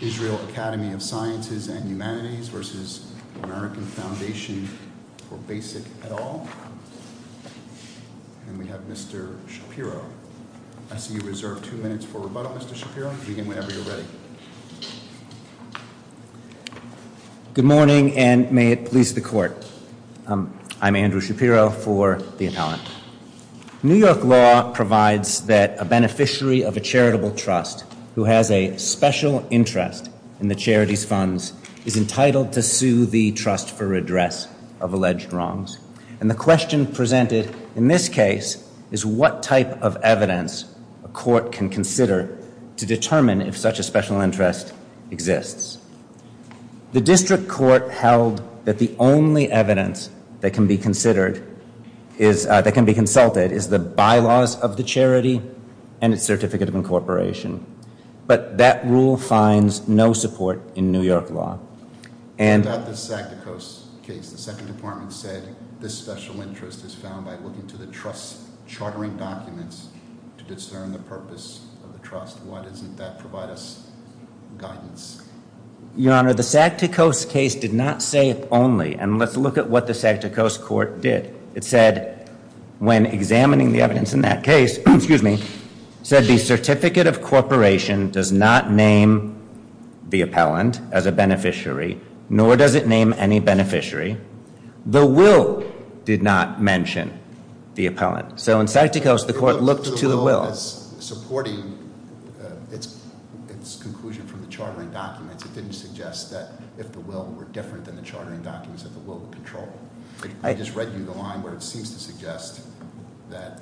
Israel Academy of Sciences and Humanities v. American Foundation for Basic et al. And we have Mr. Shapiro. I see you reserve two minutes for rebuttal, Mr. Shapiro. Begin whenever you're ready. Good morning, and may it please the court. I'm Andrew Shapiro for the appellant. New York law provides that a beneficiary of a charitable trust who has a special interest in the charity's funds is entitled to sue the trust for redress of alleged wrongs. And the question presented in this case is what type of evidence a court can consider to determine if such a special interest exists. The district court held that the only evidence that can be consulted is the bylaws of the charity and its certificate of incorporation. But that rule finds no support in New York law. Without the Saktikos case, the second department said this special interest is found by looking to the trust's chartering documents to discern the purpose of the trust. Why doesn't that provide us guidance? Your Honor, the Saktikos case did not say if only, and let's look at what the Saktikos court did. It said when examining the evidence in that case, excuse me, said the certificate of incorporation does not name the appellant as a beneficiary, nor does it name any beneficiary. The will did not mention the appellant. So in Saktikos, the court looked to the will. It looked to the will as supporting its conclusion from the chartering documents. It didn't suggest that if the will were different than the chartering documents that the will would control. I just read you the line where it seems to suggest that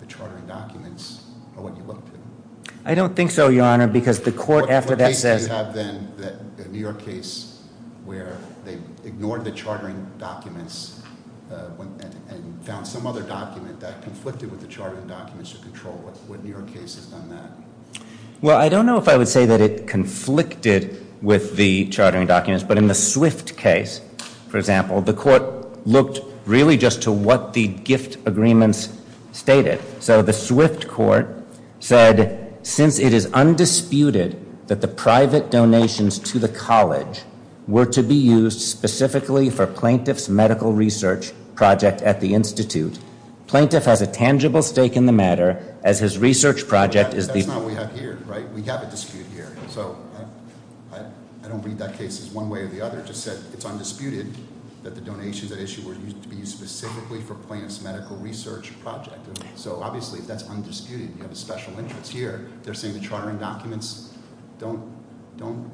the chartering documents are what you look to. I don't think so, Your Honor, because the court after that says- What case did you have then, a New York case where they ignored the chartering documents and found some other document that conflicted with the chartering documents to control? What New York case has done that? Well, I don't know if I would say that it conflicted with the chartering documents. But in the Swift case, for example, the court looked really just to what the gift agreements stated. So the Swift court said, since it is undisputed that the private donations to the college were to be used specifically for plaintiff's medical research project at the institute, plaintiff has a tangible stake in the matter as his research project is the- That's not what we have here, right? We have a dispute here. So I don't read that case as one way or the other. It just said it's undisputed that the donations at issue were used to be used specifically for plaintiff's medical research project. So obviously that's undisputed. You have a special interest here. They're saying the chartering documents don't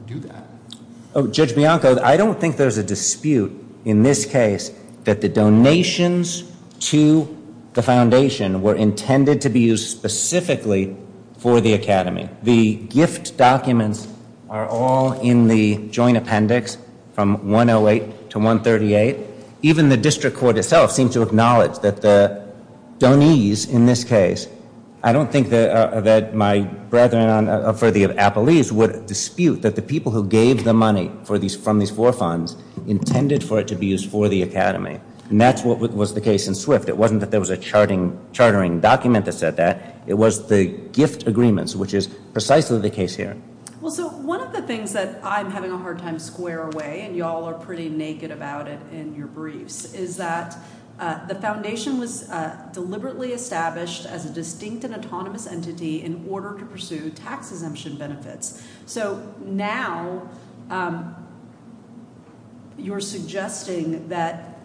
do that. Judge Bianco, I don't think there's a dispute in this case that the donations to the foundation were intended to be used specifically for the academy. The gift documents are all in the joint appendix from 108 to 138. Even the district court itself seemed to acknowledge that the donees in this case, I don't think that my brethren for the appellees would dispute that the people who gave the money from these four funds intended for it to be used for the academy. And that's what was the case in Swift. It wasn't that there was a chartering document that said that. It was the gift agreements, which is precisely the case here. Well, so one of the things that I'm having a hard time square away, and you all are pretty naked about it in your briefs, is that the foundation was deliberately established as a distinct and autonomous entity in order to pursue tax exemption benefits. So now you're suggesting that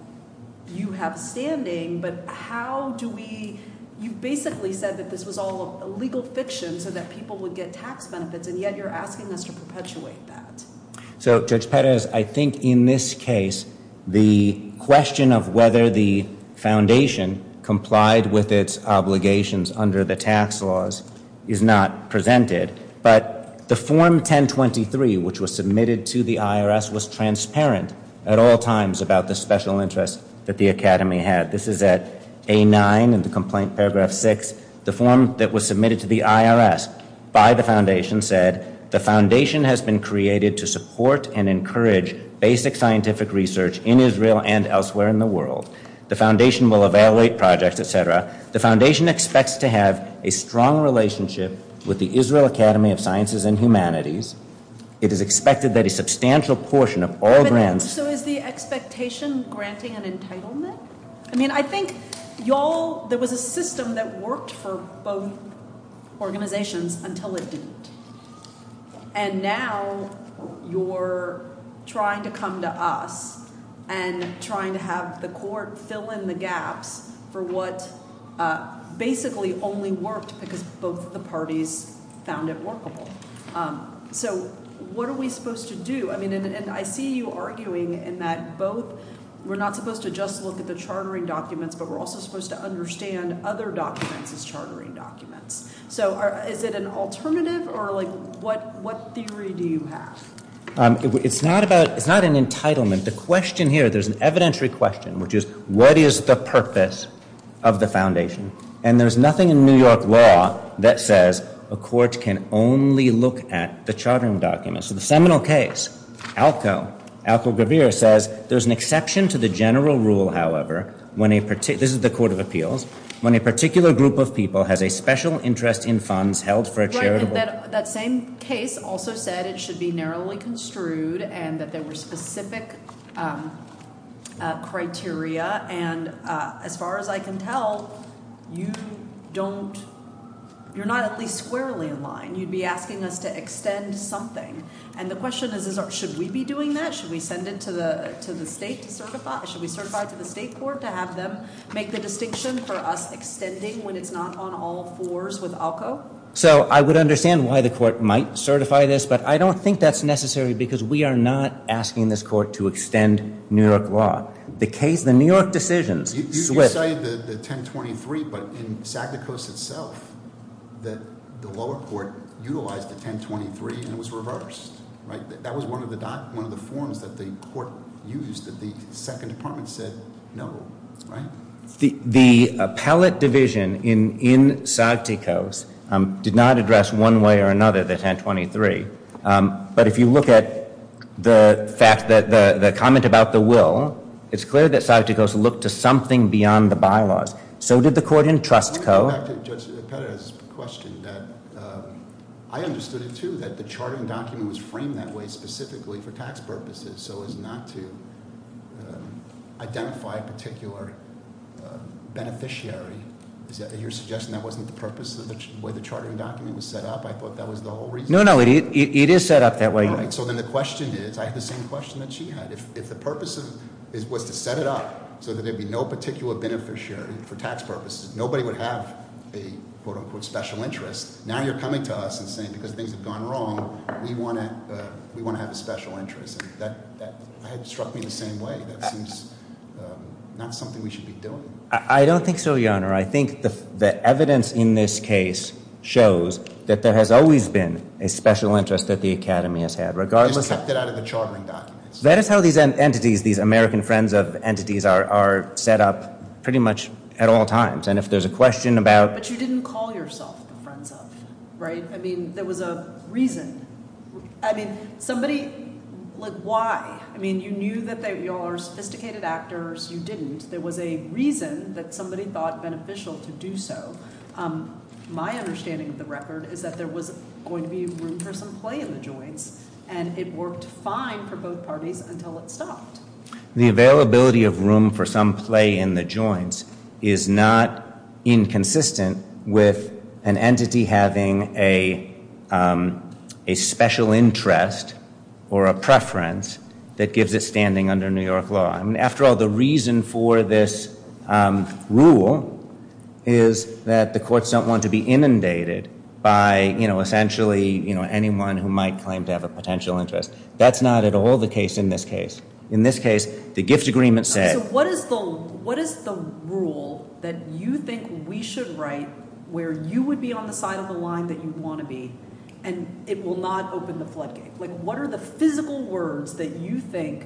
you have standing. But how do we, you basically said that this was all legal fiction so that people would get tax benefits, and yet you're asking us to perpetuate that. So, Judge Perez, I think in this case, the question of whether the foundation complied with its obligations under the tax laws is not presented. But the form 1023, which was submitted to the IRS, was transparent at all times about the special interests that the academy had. This is at A9 in the complaint, paragraph 6. The form that was submitted to the IRS by the foundation said, the foundation has been created to support and encourage basic scientific research in Israel and elsewhere in the world. The foundation will evaluate projects, et cetera. The foundation expects to have a strong relationship with the Israel Academy of Sciences and Humanities. It is expected that a substantial portion of all grants... I mean, I think y'all, there was a system that worked for both organizations until it didn't. And now you're trying to come to us and trying to have the court fill in the gaps for what basically only worked because both the parties found it workable. So what are we supposed to do? I mean, and I see you arguing in that both, we're not supposed to just look at the chartering documents, but we're also supposed to understand other documents as chartering documents. So is it an alternative or like what theory do you have? It's not an entitlement. The question here, there's an evidentiary question, which is what is the purpose of the foundation? And there's nothing in New York law that says a court can only look at the chartering documents. So the seminal case, ALCO, ALCO-Gravir says there's an exception to the general rule, however, when a particular, this is the Court of Appeals, when a particular group of people has a special interest in funds held for a charitable... That same case also said it should be narrowly construed and that there were specific criteria. And as far as I can tell, you don't, you're not at least squarely in line. And you'd be asking us to extend something. And the question is, should we be doing that? Should we send it to the state to certify? Should we certify to the state court to have them make the distinction for us extending when it's not on all fours with ALCO? So I would understand why the court might certify this, but I don't think that's necessary because we are not asking this court to extend New York law. The case, the New York decisions- You say the 1023, but in Sagticos itself, the lower court utilized the 1023 and it was reversed, right? That was one of the forms that the court used that the second department said no, right? The appellate division in Sagticos did not address one way or another the 1023. But if you look at the fact that the comment about the will, it's clear that Sagticos looked to something beyond the bylaws. So did the court in Trust Co. I want to go back to Judge Petta's question. I understood it too, that the charting document was framed that way specifically for tax purposes, so as not to identify a particular beneficiary. Is that your suggestion that wasn't the purpose of the way the charting document was set up? I thought that was the whole reason. No, no, it is set up that way. So then the question is, I have the same question that she had. If the purpose was to set it up so that there'd be no particular beneficiary for tax purposes, nobody would have a quote-unquote special interest. Now you're coming to us and saying because things have gone wrong, we want to have a special interest. That struck me the same way. That seems not something we should be doing. I don't think so, Your Honor. I think the evidence in this case shows that there has always been a special interest that the Academy has had. You just kept it out of the charting documents. That is how these entities, these American friends of entities, are set up pretty much at all times. And if there's a question about— But you didn't call yourself the friends of, right? I mean, there was a reason. I mean, somebody, like why? I mean, you knew that they all are sophisticated actors. You didn't. There was a reason that somebody thought beneficial to do so. My understanding of the record is that there was going to be room for some play in the joints, and it worked fine for both parties until it stopped. The availability of room for some play in the joints is not inconsistent with an entity having a special interest or a preference that gives it standing under New York law. I mean, after all, the reason for this rule is that the courts don't want to be inundated by, you know, essentially anyone who might claim to have a potential interest. That's not at all the case in this case. In this case, the gift agreement said— So what is the rule that you think we should write where you would be on the side of the line that you want to be, and it will not open the floodgates? Like, what are the physical words that you think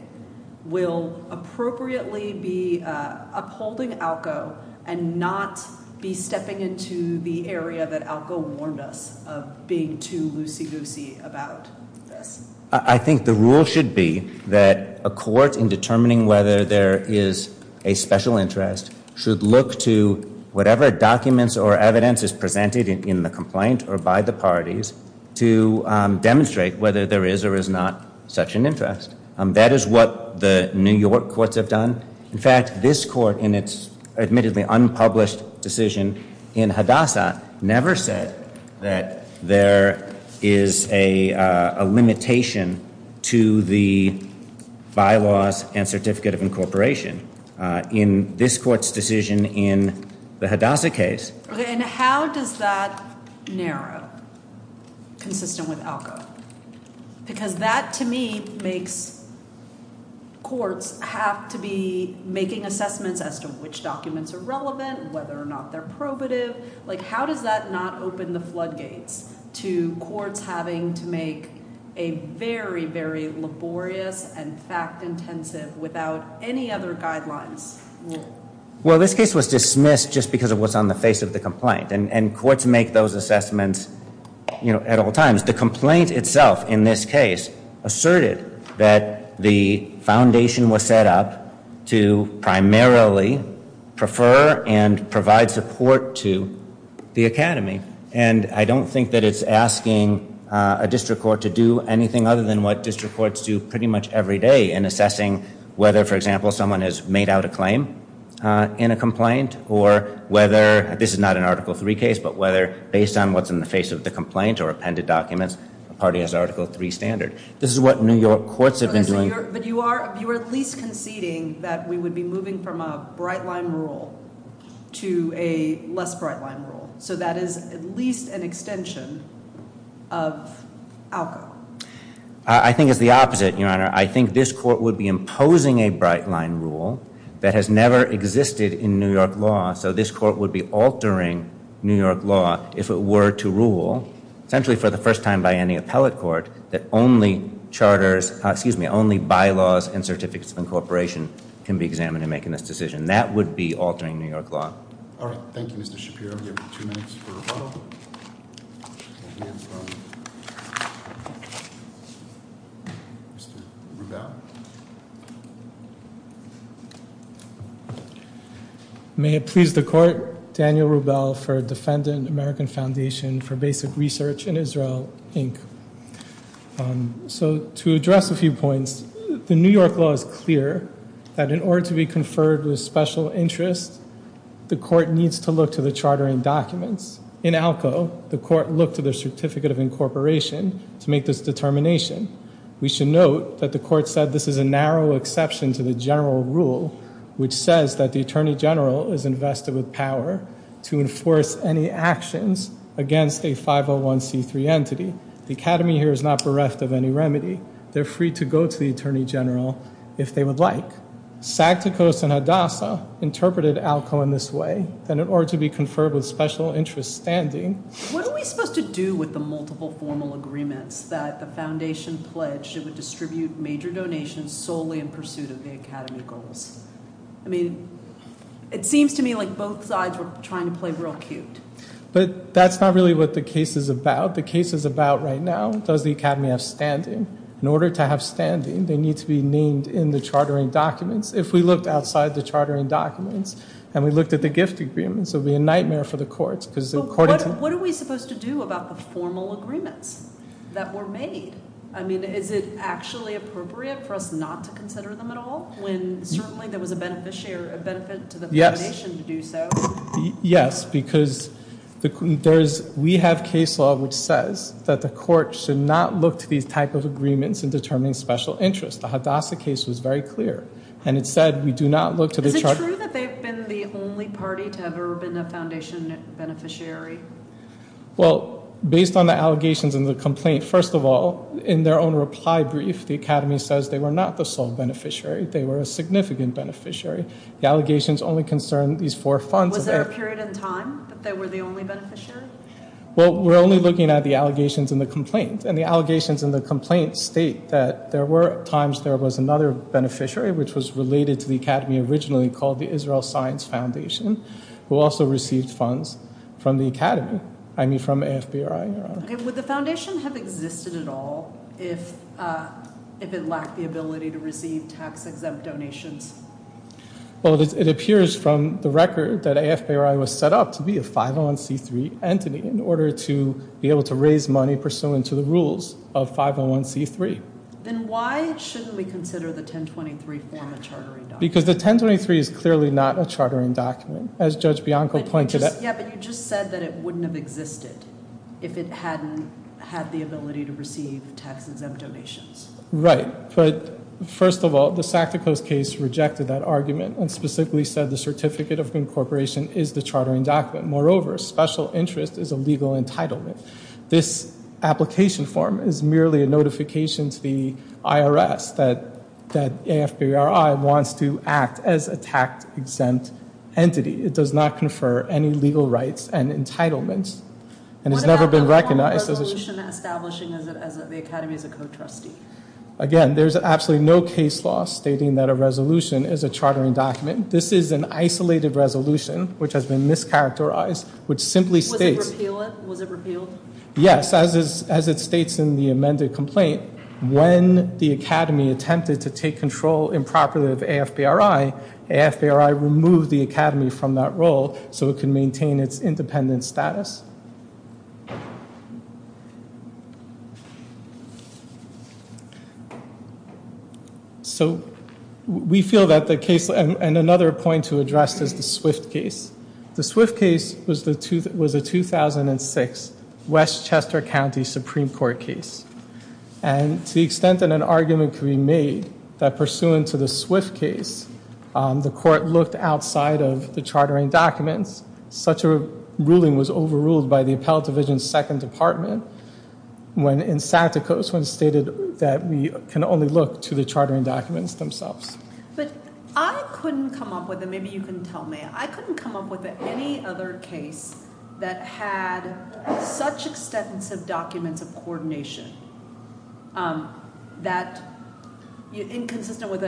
will appropriately be upholding ALCO and not be stepping into the area that ALCO warned us of being too loosey-goosey about this? I think the rule should be that a court, in determining whether there is a special interest, should look to whatever documents or evidence is presented in the complaint or by the parties to demonstrate whether there is or is not such an interest. That is what the New York courts have done. In fact, this court, in its admittedly unpublished decision in Hadassah, never said that there is a limitation to the bylaws and certificate of incorporation. In this court's decision in the Hadassah case— And how does that narrow, consistent with ALCO? Because that, to me, makes courts have to be making assessments as to which documents are relevant, whether or not they're probative. Like, how does that not open the floodgates to courts having to make a very, very laborious and fact-intensive, without any other guidelines, rule? Well, this case was dismissed just because it was on the face of the complaint. And courts make those assessments at all times. The complaint itself, in this case, asserted that the foundation was set up to primarily prefer and provide support to the academy. And I don't think that it's asking a district court to do anything other than what district courts do in a complaint, or whether—this is not an Article III case— but whether, based on what's in the face of the complaint or appended documents, a party has Article III standard. This is what New York courts have been doing— But you are at least conceding that we would be moving from a bright-line rule to a less bright-line rule. So that is at least an extension of ALCO. I think it's the opposite, Your Honor. I think this court would be imposing a bright-line rule that has never existed in New York law. So this court would be altering New York law if it were to rule, essentially for the first time by any appellate court, that only bylaws and certificates of incorporation can be examined in making this decision. That would be altering New York law. All right. Thank you, Mr. Shapiro. I'm going to give you two minutes for rebuttal. Mr. Rubel. May it please the Court. Daniel Rubel for Defendant American Foundation for Basic Research in Israel, Inc. So to address a few points, the New York law is clear that in order to be conferred with special interest, the court needs to look to the chartering documents. In ALCO, the court looked to the certificate of incorporation to make this determination. We should note that the court said this is a narrow exception to the general rule, which says that the attorney general is invested with power to enforce any actions against a 501c3 entity. The academy here is not bereft of any remedy. They're free to go to the attorney general if they would like. Saktikos and Hadassah interpreted ALCO in this way, that in order to be conferred with special interest standing. What are we supposed to do with the multiple formal agreements that the foundation pledged it would distribute major donations solely in pursuit of the academy goals? I mean, it seems to me like both sides were trying to play real cute. But that's not really what the case is about. The case is about right now, does the academy have standing? In order to have standing, they need to be named in the chartering documents. If we looked outside the chartering documents and we looked at the gift agreements, it would be a nightmare for the courts. What are we supposed to do about the formal agreements that were made? I mean, is it actually appropriate for us not to consider them at all when certainly there was a benefit to the foundation to do so? Yes, because we have case law which says that the court should not look to these types of agreements in determining special interest. The Hadassah case was very clear. And it said we do not look to the charter. Is it true that they've been the only party to have ever been a foundation beneficiary? Well, based on the allegations and the complaint, first of all, in their own reply brief, the academy says they were not the sole beneficiary. They were a significant beneficiary. The allegations only concern these four funds. Was there a period in time that they were the only beneficiary? Well, we're only looking at the allegations and the complaints. And the allegations and the complaints state that there were times there was another beneficiary, which was related to the academy originally called the Israel Science Foundation, who also received funds from the academy, I mean from AFBRI. Would the foundation have existed at all if it lacked the ability to receive tax-exempt donations? Well, it appears from the record that AFBRI was set up to be a 501c3 entity in order to be able to raise money pursuant to the rules of 501c3. Then why shouldn't we consider the 1023 form a chartering document? Because the 1023 is clearly not a chartering document, as Judge Bianco pointed out. Yeah, but you just said that it wouldn't have existed if it hadn't had the ability to receive tax-exempt donations. Right, but first of all, the Sacticos case rejected that argument and specifically said the certificate of incorporation is the chartering document. Moreover, special interest is a legal entitlement. This application form is merely a notification to the IRS that AFBRI wants to act as a tax-exempt entity. It does not confer any legal rights and entitlements and has never been recognized. What about the wrong resolution establishing the academy as a co-trustee? Again, there's absolutely no case law stating that a resolution is a chartering document. This is an isolated resolution which has been mischaracterized, which simply states Was it repealed? Yes, as it states in the amended complaint, when the academy attempted to take control improperly of AFBRI, AFBRI removed the academy from that role so it could maintain its independent status. So we feel that the case, and another point to address is the Swift case. The Swift case was a 2006 Westchester County Supreme Court case. And to the extent that an argument could be made that pursuant to the Swift case, the court looked outside of the chartering documents. Such a ruling was overruled by the Appellate Division's Second Department in Sacticos when it stated that we can only look to the chartering documents themselves. But I couldn't come up with, and maybe you can tell me, I couldn't come up with any other case that had such extensive documents of coordination that inconsistent with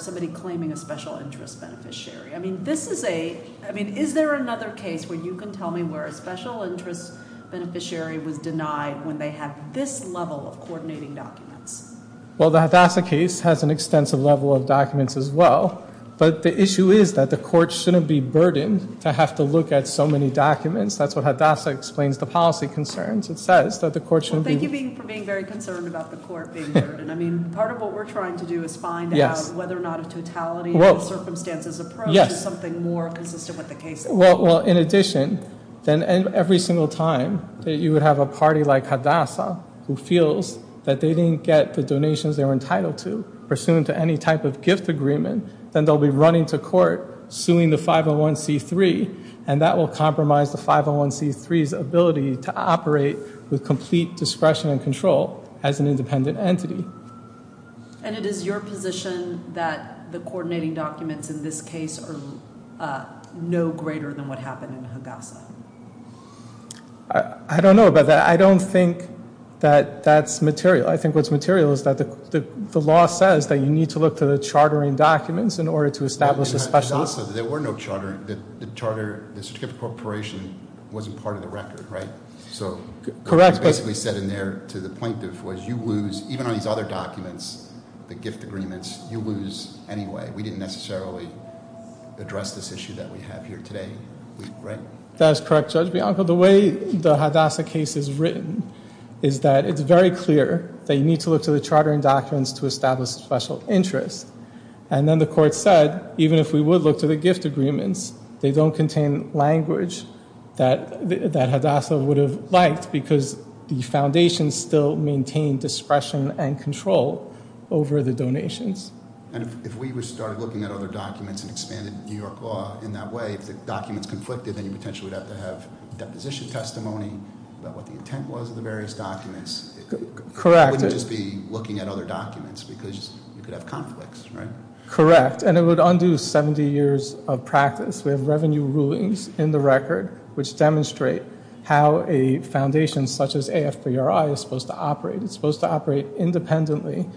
somebody claiming a special interest beneficiary. I mean, is there another case where you can tell me where a special interest beneficiary was denied when they had this level of coordinating documents? Well, the Hadassah case has an extensive level of documents as well. But the issue is that the court shouldn't be burdened to have to look at so many documents. That's what Hadassah explains the policy concerns. It says that the court shouldn't be. Well, thank you for being very concerned about the court being burdened. I mean, part of what we're trying to do is find out whether or not a totality circumstances approach is something more consistent with the case. Well, in addition, every single time that you would have a party like Hadassah who feels that they didn't get the donations they were entitled to, pursuant to any type of gift agreement, then they'll be running to court suing the 501C3, and that will compromise the 501C3's ability to operate with complete discretion and control as an independent entity. And it is your position that the coordinating documents in this case are no greater than what happened in Hadassah? I don't know about that. I don't think that that's material. I think what's material is that the law says that you need to look to the chartering documents in order to establish a special... Hadassah, there were no chartering. The charter, the certificate of corporation wasn't part of the record, right? Correct. So what was basically said in there to the plaintiff was you lose, even on these other documents, the gift agreements, you lose anyway. We didn't necessarily address this issue that we have here today, right? That is correct, Judge Bianco. The way the Hadassah case is written is that it's very clear that you need to look to the chartering documents to establish a special interest. And then the court said, even if we would look to the gift agreements, they don't contain language that Hadassah would have liked because the foundation still maintained discretion and control over the donations. And if we were to start looking at other documents and expanded New York law in that way, if the documents conflicted, then you potentially would have to have deposition testimony about what the intent was of the various documents. Correct. You wouldn't just be looking at other documents because you could have conflicts, right? Correct. And it would undo 70 years of practice. We have revenue rulings in the record which demonstrate how a foundation such as AFPRI is supposed to operate. It's supposed to operate independently,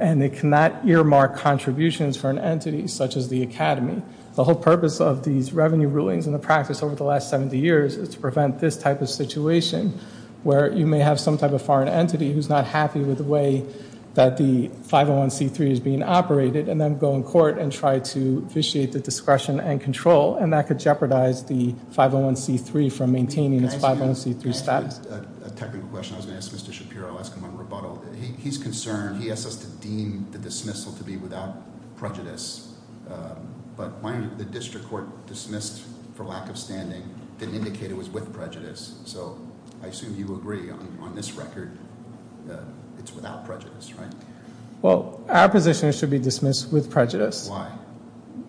and it cannot earmark contributions for an entity such as the academy. The whole purpose of these revenue rulings and the practice over the last 70 years is to prevent this type of situation where you may have some type of foreign entity who's not happy with the way that the 501c3 is being operated and then go in court and try to vitiate the discretion and control, and that could jeopardize the 501c3 from maintaining its 501c3 status. Can I ask you a technical question? I was going to ask Mr. Shapiro. I'll ask him on rebuttal. He's concerned. He asks us to deem the dismissal to be without prejudice, but the district court dismissed for lack of standing didn't indicate it was with prejudice, so I assume you agree on this record it's without prejudice, right? Well, our position is it should be dismissed with prejudice. Why?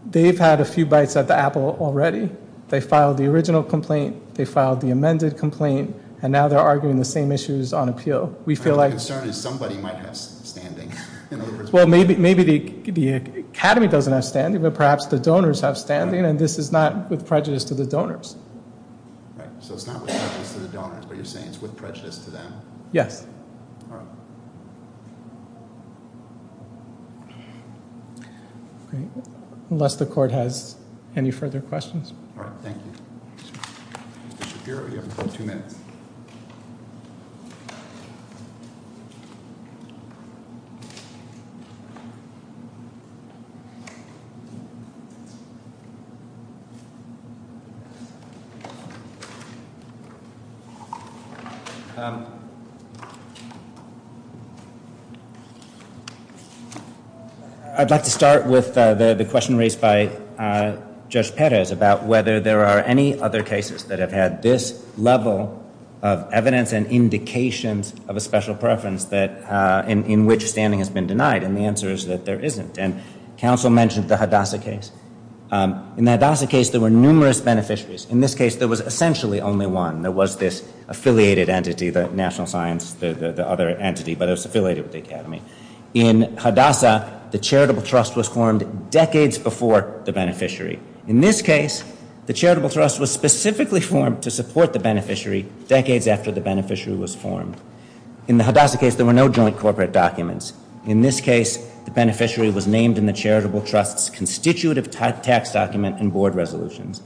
They've had a few bites at the apple already. They filed the original complaint. They filed the amended complaint, and now they're arguing the same issues on appeal. The concern is somebody might have standing. Well, maybe the academy doesn't have standing, but perhaps the donors have standing, and this is not with prejudice to the donors. So it's not with prejudice to the donors, but you're saying it's with prejudice to them? Yes. All right. Unless the court has any further questions. All right. Thank you. Mr. Shapiro, you have two minutes. Thank you. I'd like to start with the question raised by Judge Perez about whether there are any other cases that have had this level of evidence and indications of a special preference in which standing has been denied, and the answer is that there isn't. And counsel mentioned the Hadassah case. In the Hadassah case, there were numerous beneficiaries. In this case, there was essentially only one. There was this affiliated entity, the National Science, the other entity, but it was affiliated with the academy. In Hadassah, the charitable trust was formed decades before the beneficiary. In this case, the charitable trust was specifically formed to support the beneficiary decades after the beneficiary was formed. In the Hadassah case, there were no joint corporate documents. In this case, the beneficiary was named in the charitable trust's constitutive tax document and board resolutions.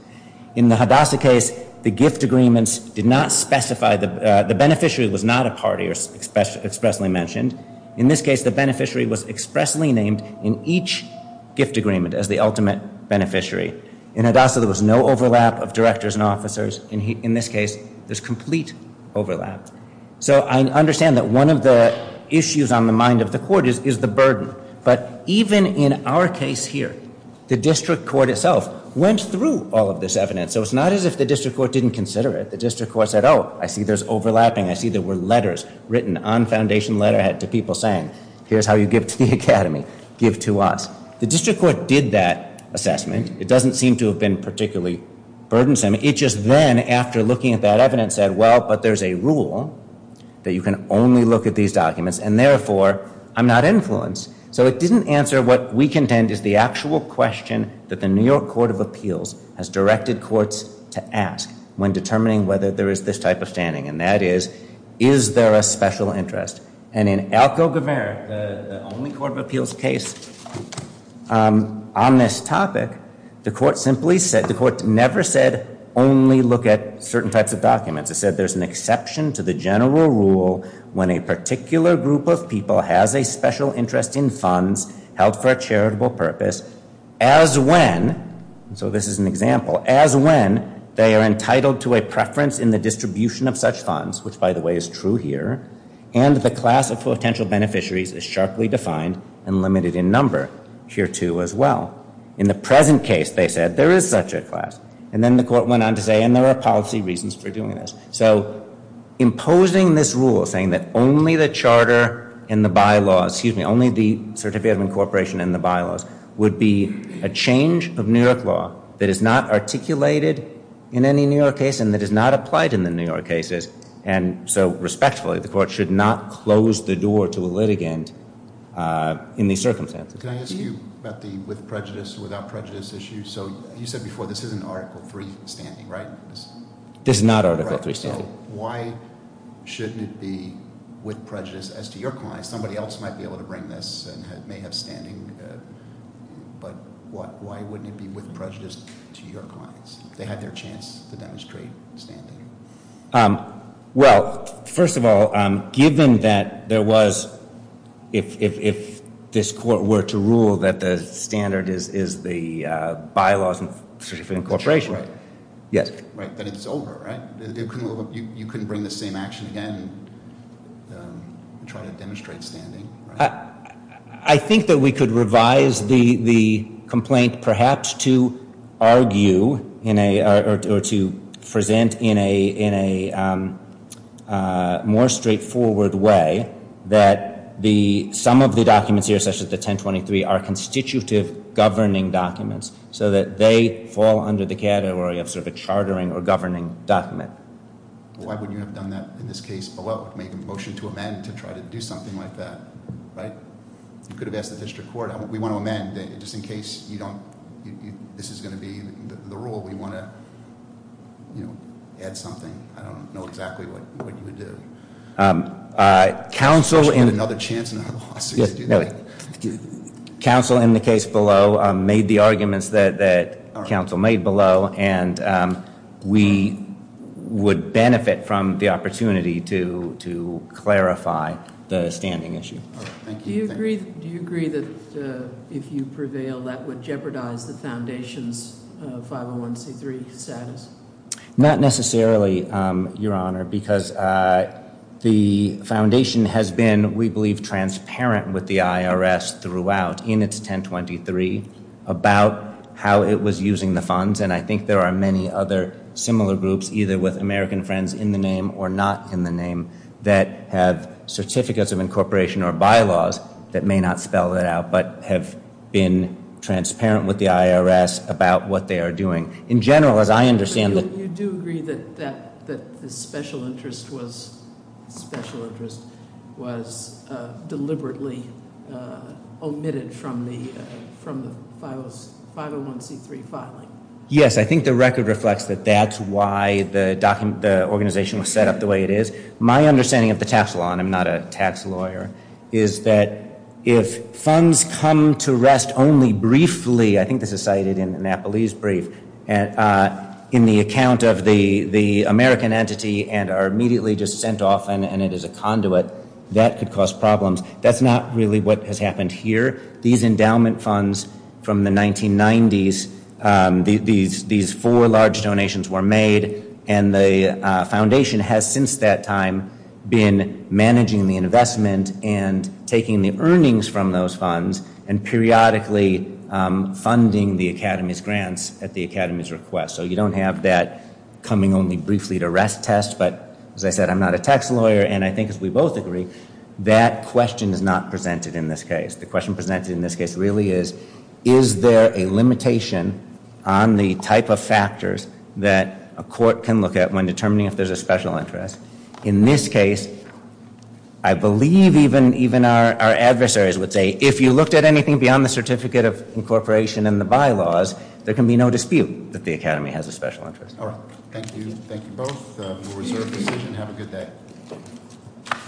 In the Hadassah case, the gift agreements did not specify the beneficiary was not a party or expressly mentioned. In this case, the beneficiary was expressly named in each gift agreement as the ultimate beneficiary. In Hadassah, there was no overlap of directors and officers. In this case, there's complete overlap. So I understand that one of the issues on the mind of the court is the burden, but even in our case here, the district court itself went through all of this evidence, so it's not as if the district court didn't consider it. The district court said, oh, I see there's overlapping. I see there were letters written on foundation letterhead to people saying, here's how you give to the academy. Give to us. The district court did that assessment. It doesn't seem to have been particularly burdensome. It just then, after looking at that evidence, said, well, but there's a rule that you can only look at these documents, and therefore, I'm not influenced. So it didn't answer what we contend is the actual question that the New York Court of Appeals has directed courts to ask when determining whether there is this type of standing, and that is, is there a special interest? And in Alco-Guevara, the only court of appeals case on this topic, the court simply said, the court never said only look at certain types of documents. It said there's an exception to the general rule when a particular group of people has a special interest in funds held for a charitable purpose, as when, so this is an example, as when they are entitled to a preference in the distribution of such funds, which, by the way, is true here, and the class of potential beneficiaries is sharply defined and limited in number here, too, as well. In the present case, they said, there is such a class. And then the court went on to say, and there are policy reasons for doing this. So imposing this rule, saying that only the charter and the bylaws, excuse me, only the certificate of incorporation and the bylaws, would be a change of New York law that is not articulated in any New York case and that is not applied in the New York cases. And so respectfully, the court should not close the door to a litigant in these circumstances. Can I ask you about the with prejudice, without prejudice issue? So you said before, this isn't Article III standing, right? This is not Article III standing. So why shouldn't it be with prejudice as to your client? Somebody else might be able to bring this and may have standing, but why wouldn't it be with prejudice to your clients? If they had their chance to demonstrate standing. Well, first of all, given that there was, if this court were to rule that the standard is the bylaws and certificate of incorporation. Right, but it's over, right? You couldn't bring the same action again and try to demonstrate standing, right? I think that we could revise the complaint perhaps to argue or to present in a more straightforward way that some of the documents here, such as the 1023, are constitutive governing documents so that they fall under the category of sort of a chartering or governing document. Why wouldn't you have done that in this case below? Make a motion to amend to try to do something like that, right? You could have asked the district court. We want to amend just in case this is going to be the rule. We want to add something. I don't know exactly what you would do. Counsel in the case below made the arguments that counsel made below, and we would benefit from the opportunity to clarify the standing issue. Do you agree that if you prevail that would jeopardize the foundation's 501C3 status? Not necessarily, Your Honor, because the foundation has been, we believe, transparent with the IRS throughout in its 1023 about how it was using the funds, and I think there are many other similar groups, either with American Friends in the name or not in the name, that have certificates of incorporation or bylaws that may not spell that out but have been transparent with the IRS about what they are doing. In general, as I understand it. You do agree that the special interest was deliberately omitted from the 501C3 filing? Yes, I think the record reflects that that's why the organization was set up the way it is. My understanding of the tax law, and I'm not a tax lawyer, is that if funds come to rest only briefly, I think this is cited in Napoli's brief, in the account of the American entity and are immediately just sent off and it is a conduit, that could cause problems. That's not really what has happened here. These endowment funds from the 1990s, these four large donations were made, and the foundation has since that time been managing the investment and taking the earnings from those funds and periodically funding the academy's grants at the academy's request. So you don't have that coming only briefly to rest test, but as I said, I'm not a tax lawyer, and I think as we both agree, that question is not presented in this case. The question presented in this case really is, is there a limitation on the type of factors that a court can look at when determining if there's a special interest? In this case, I believe even our adversaries would say, if you looked at anything beyond the certificate of incorporation and the bylaws, there can be no dispute that the academy has a special interest. All right, thank you. Thank you both. We'll reserve the session. Have a good day.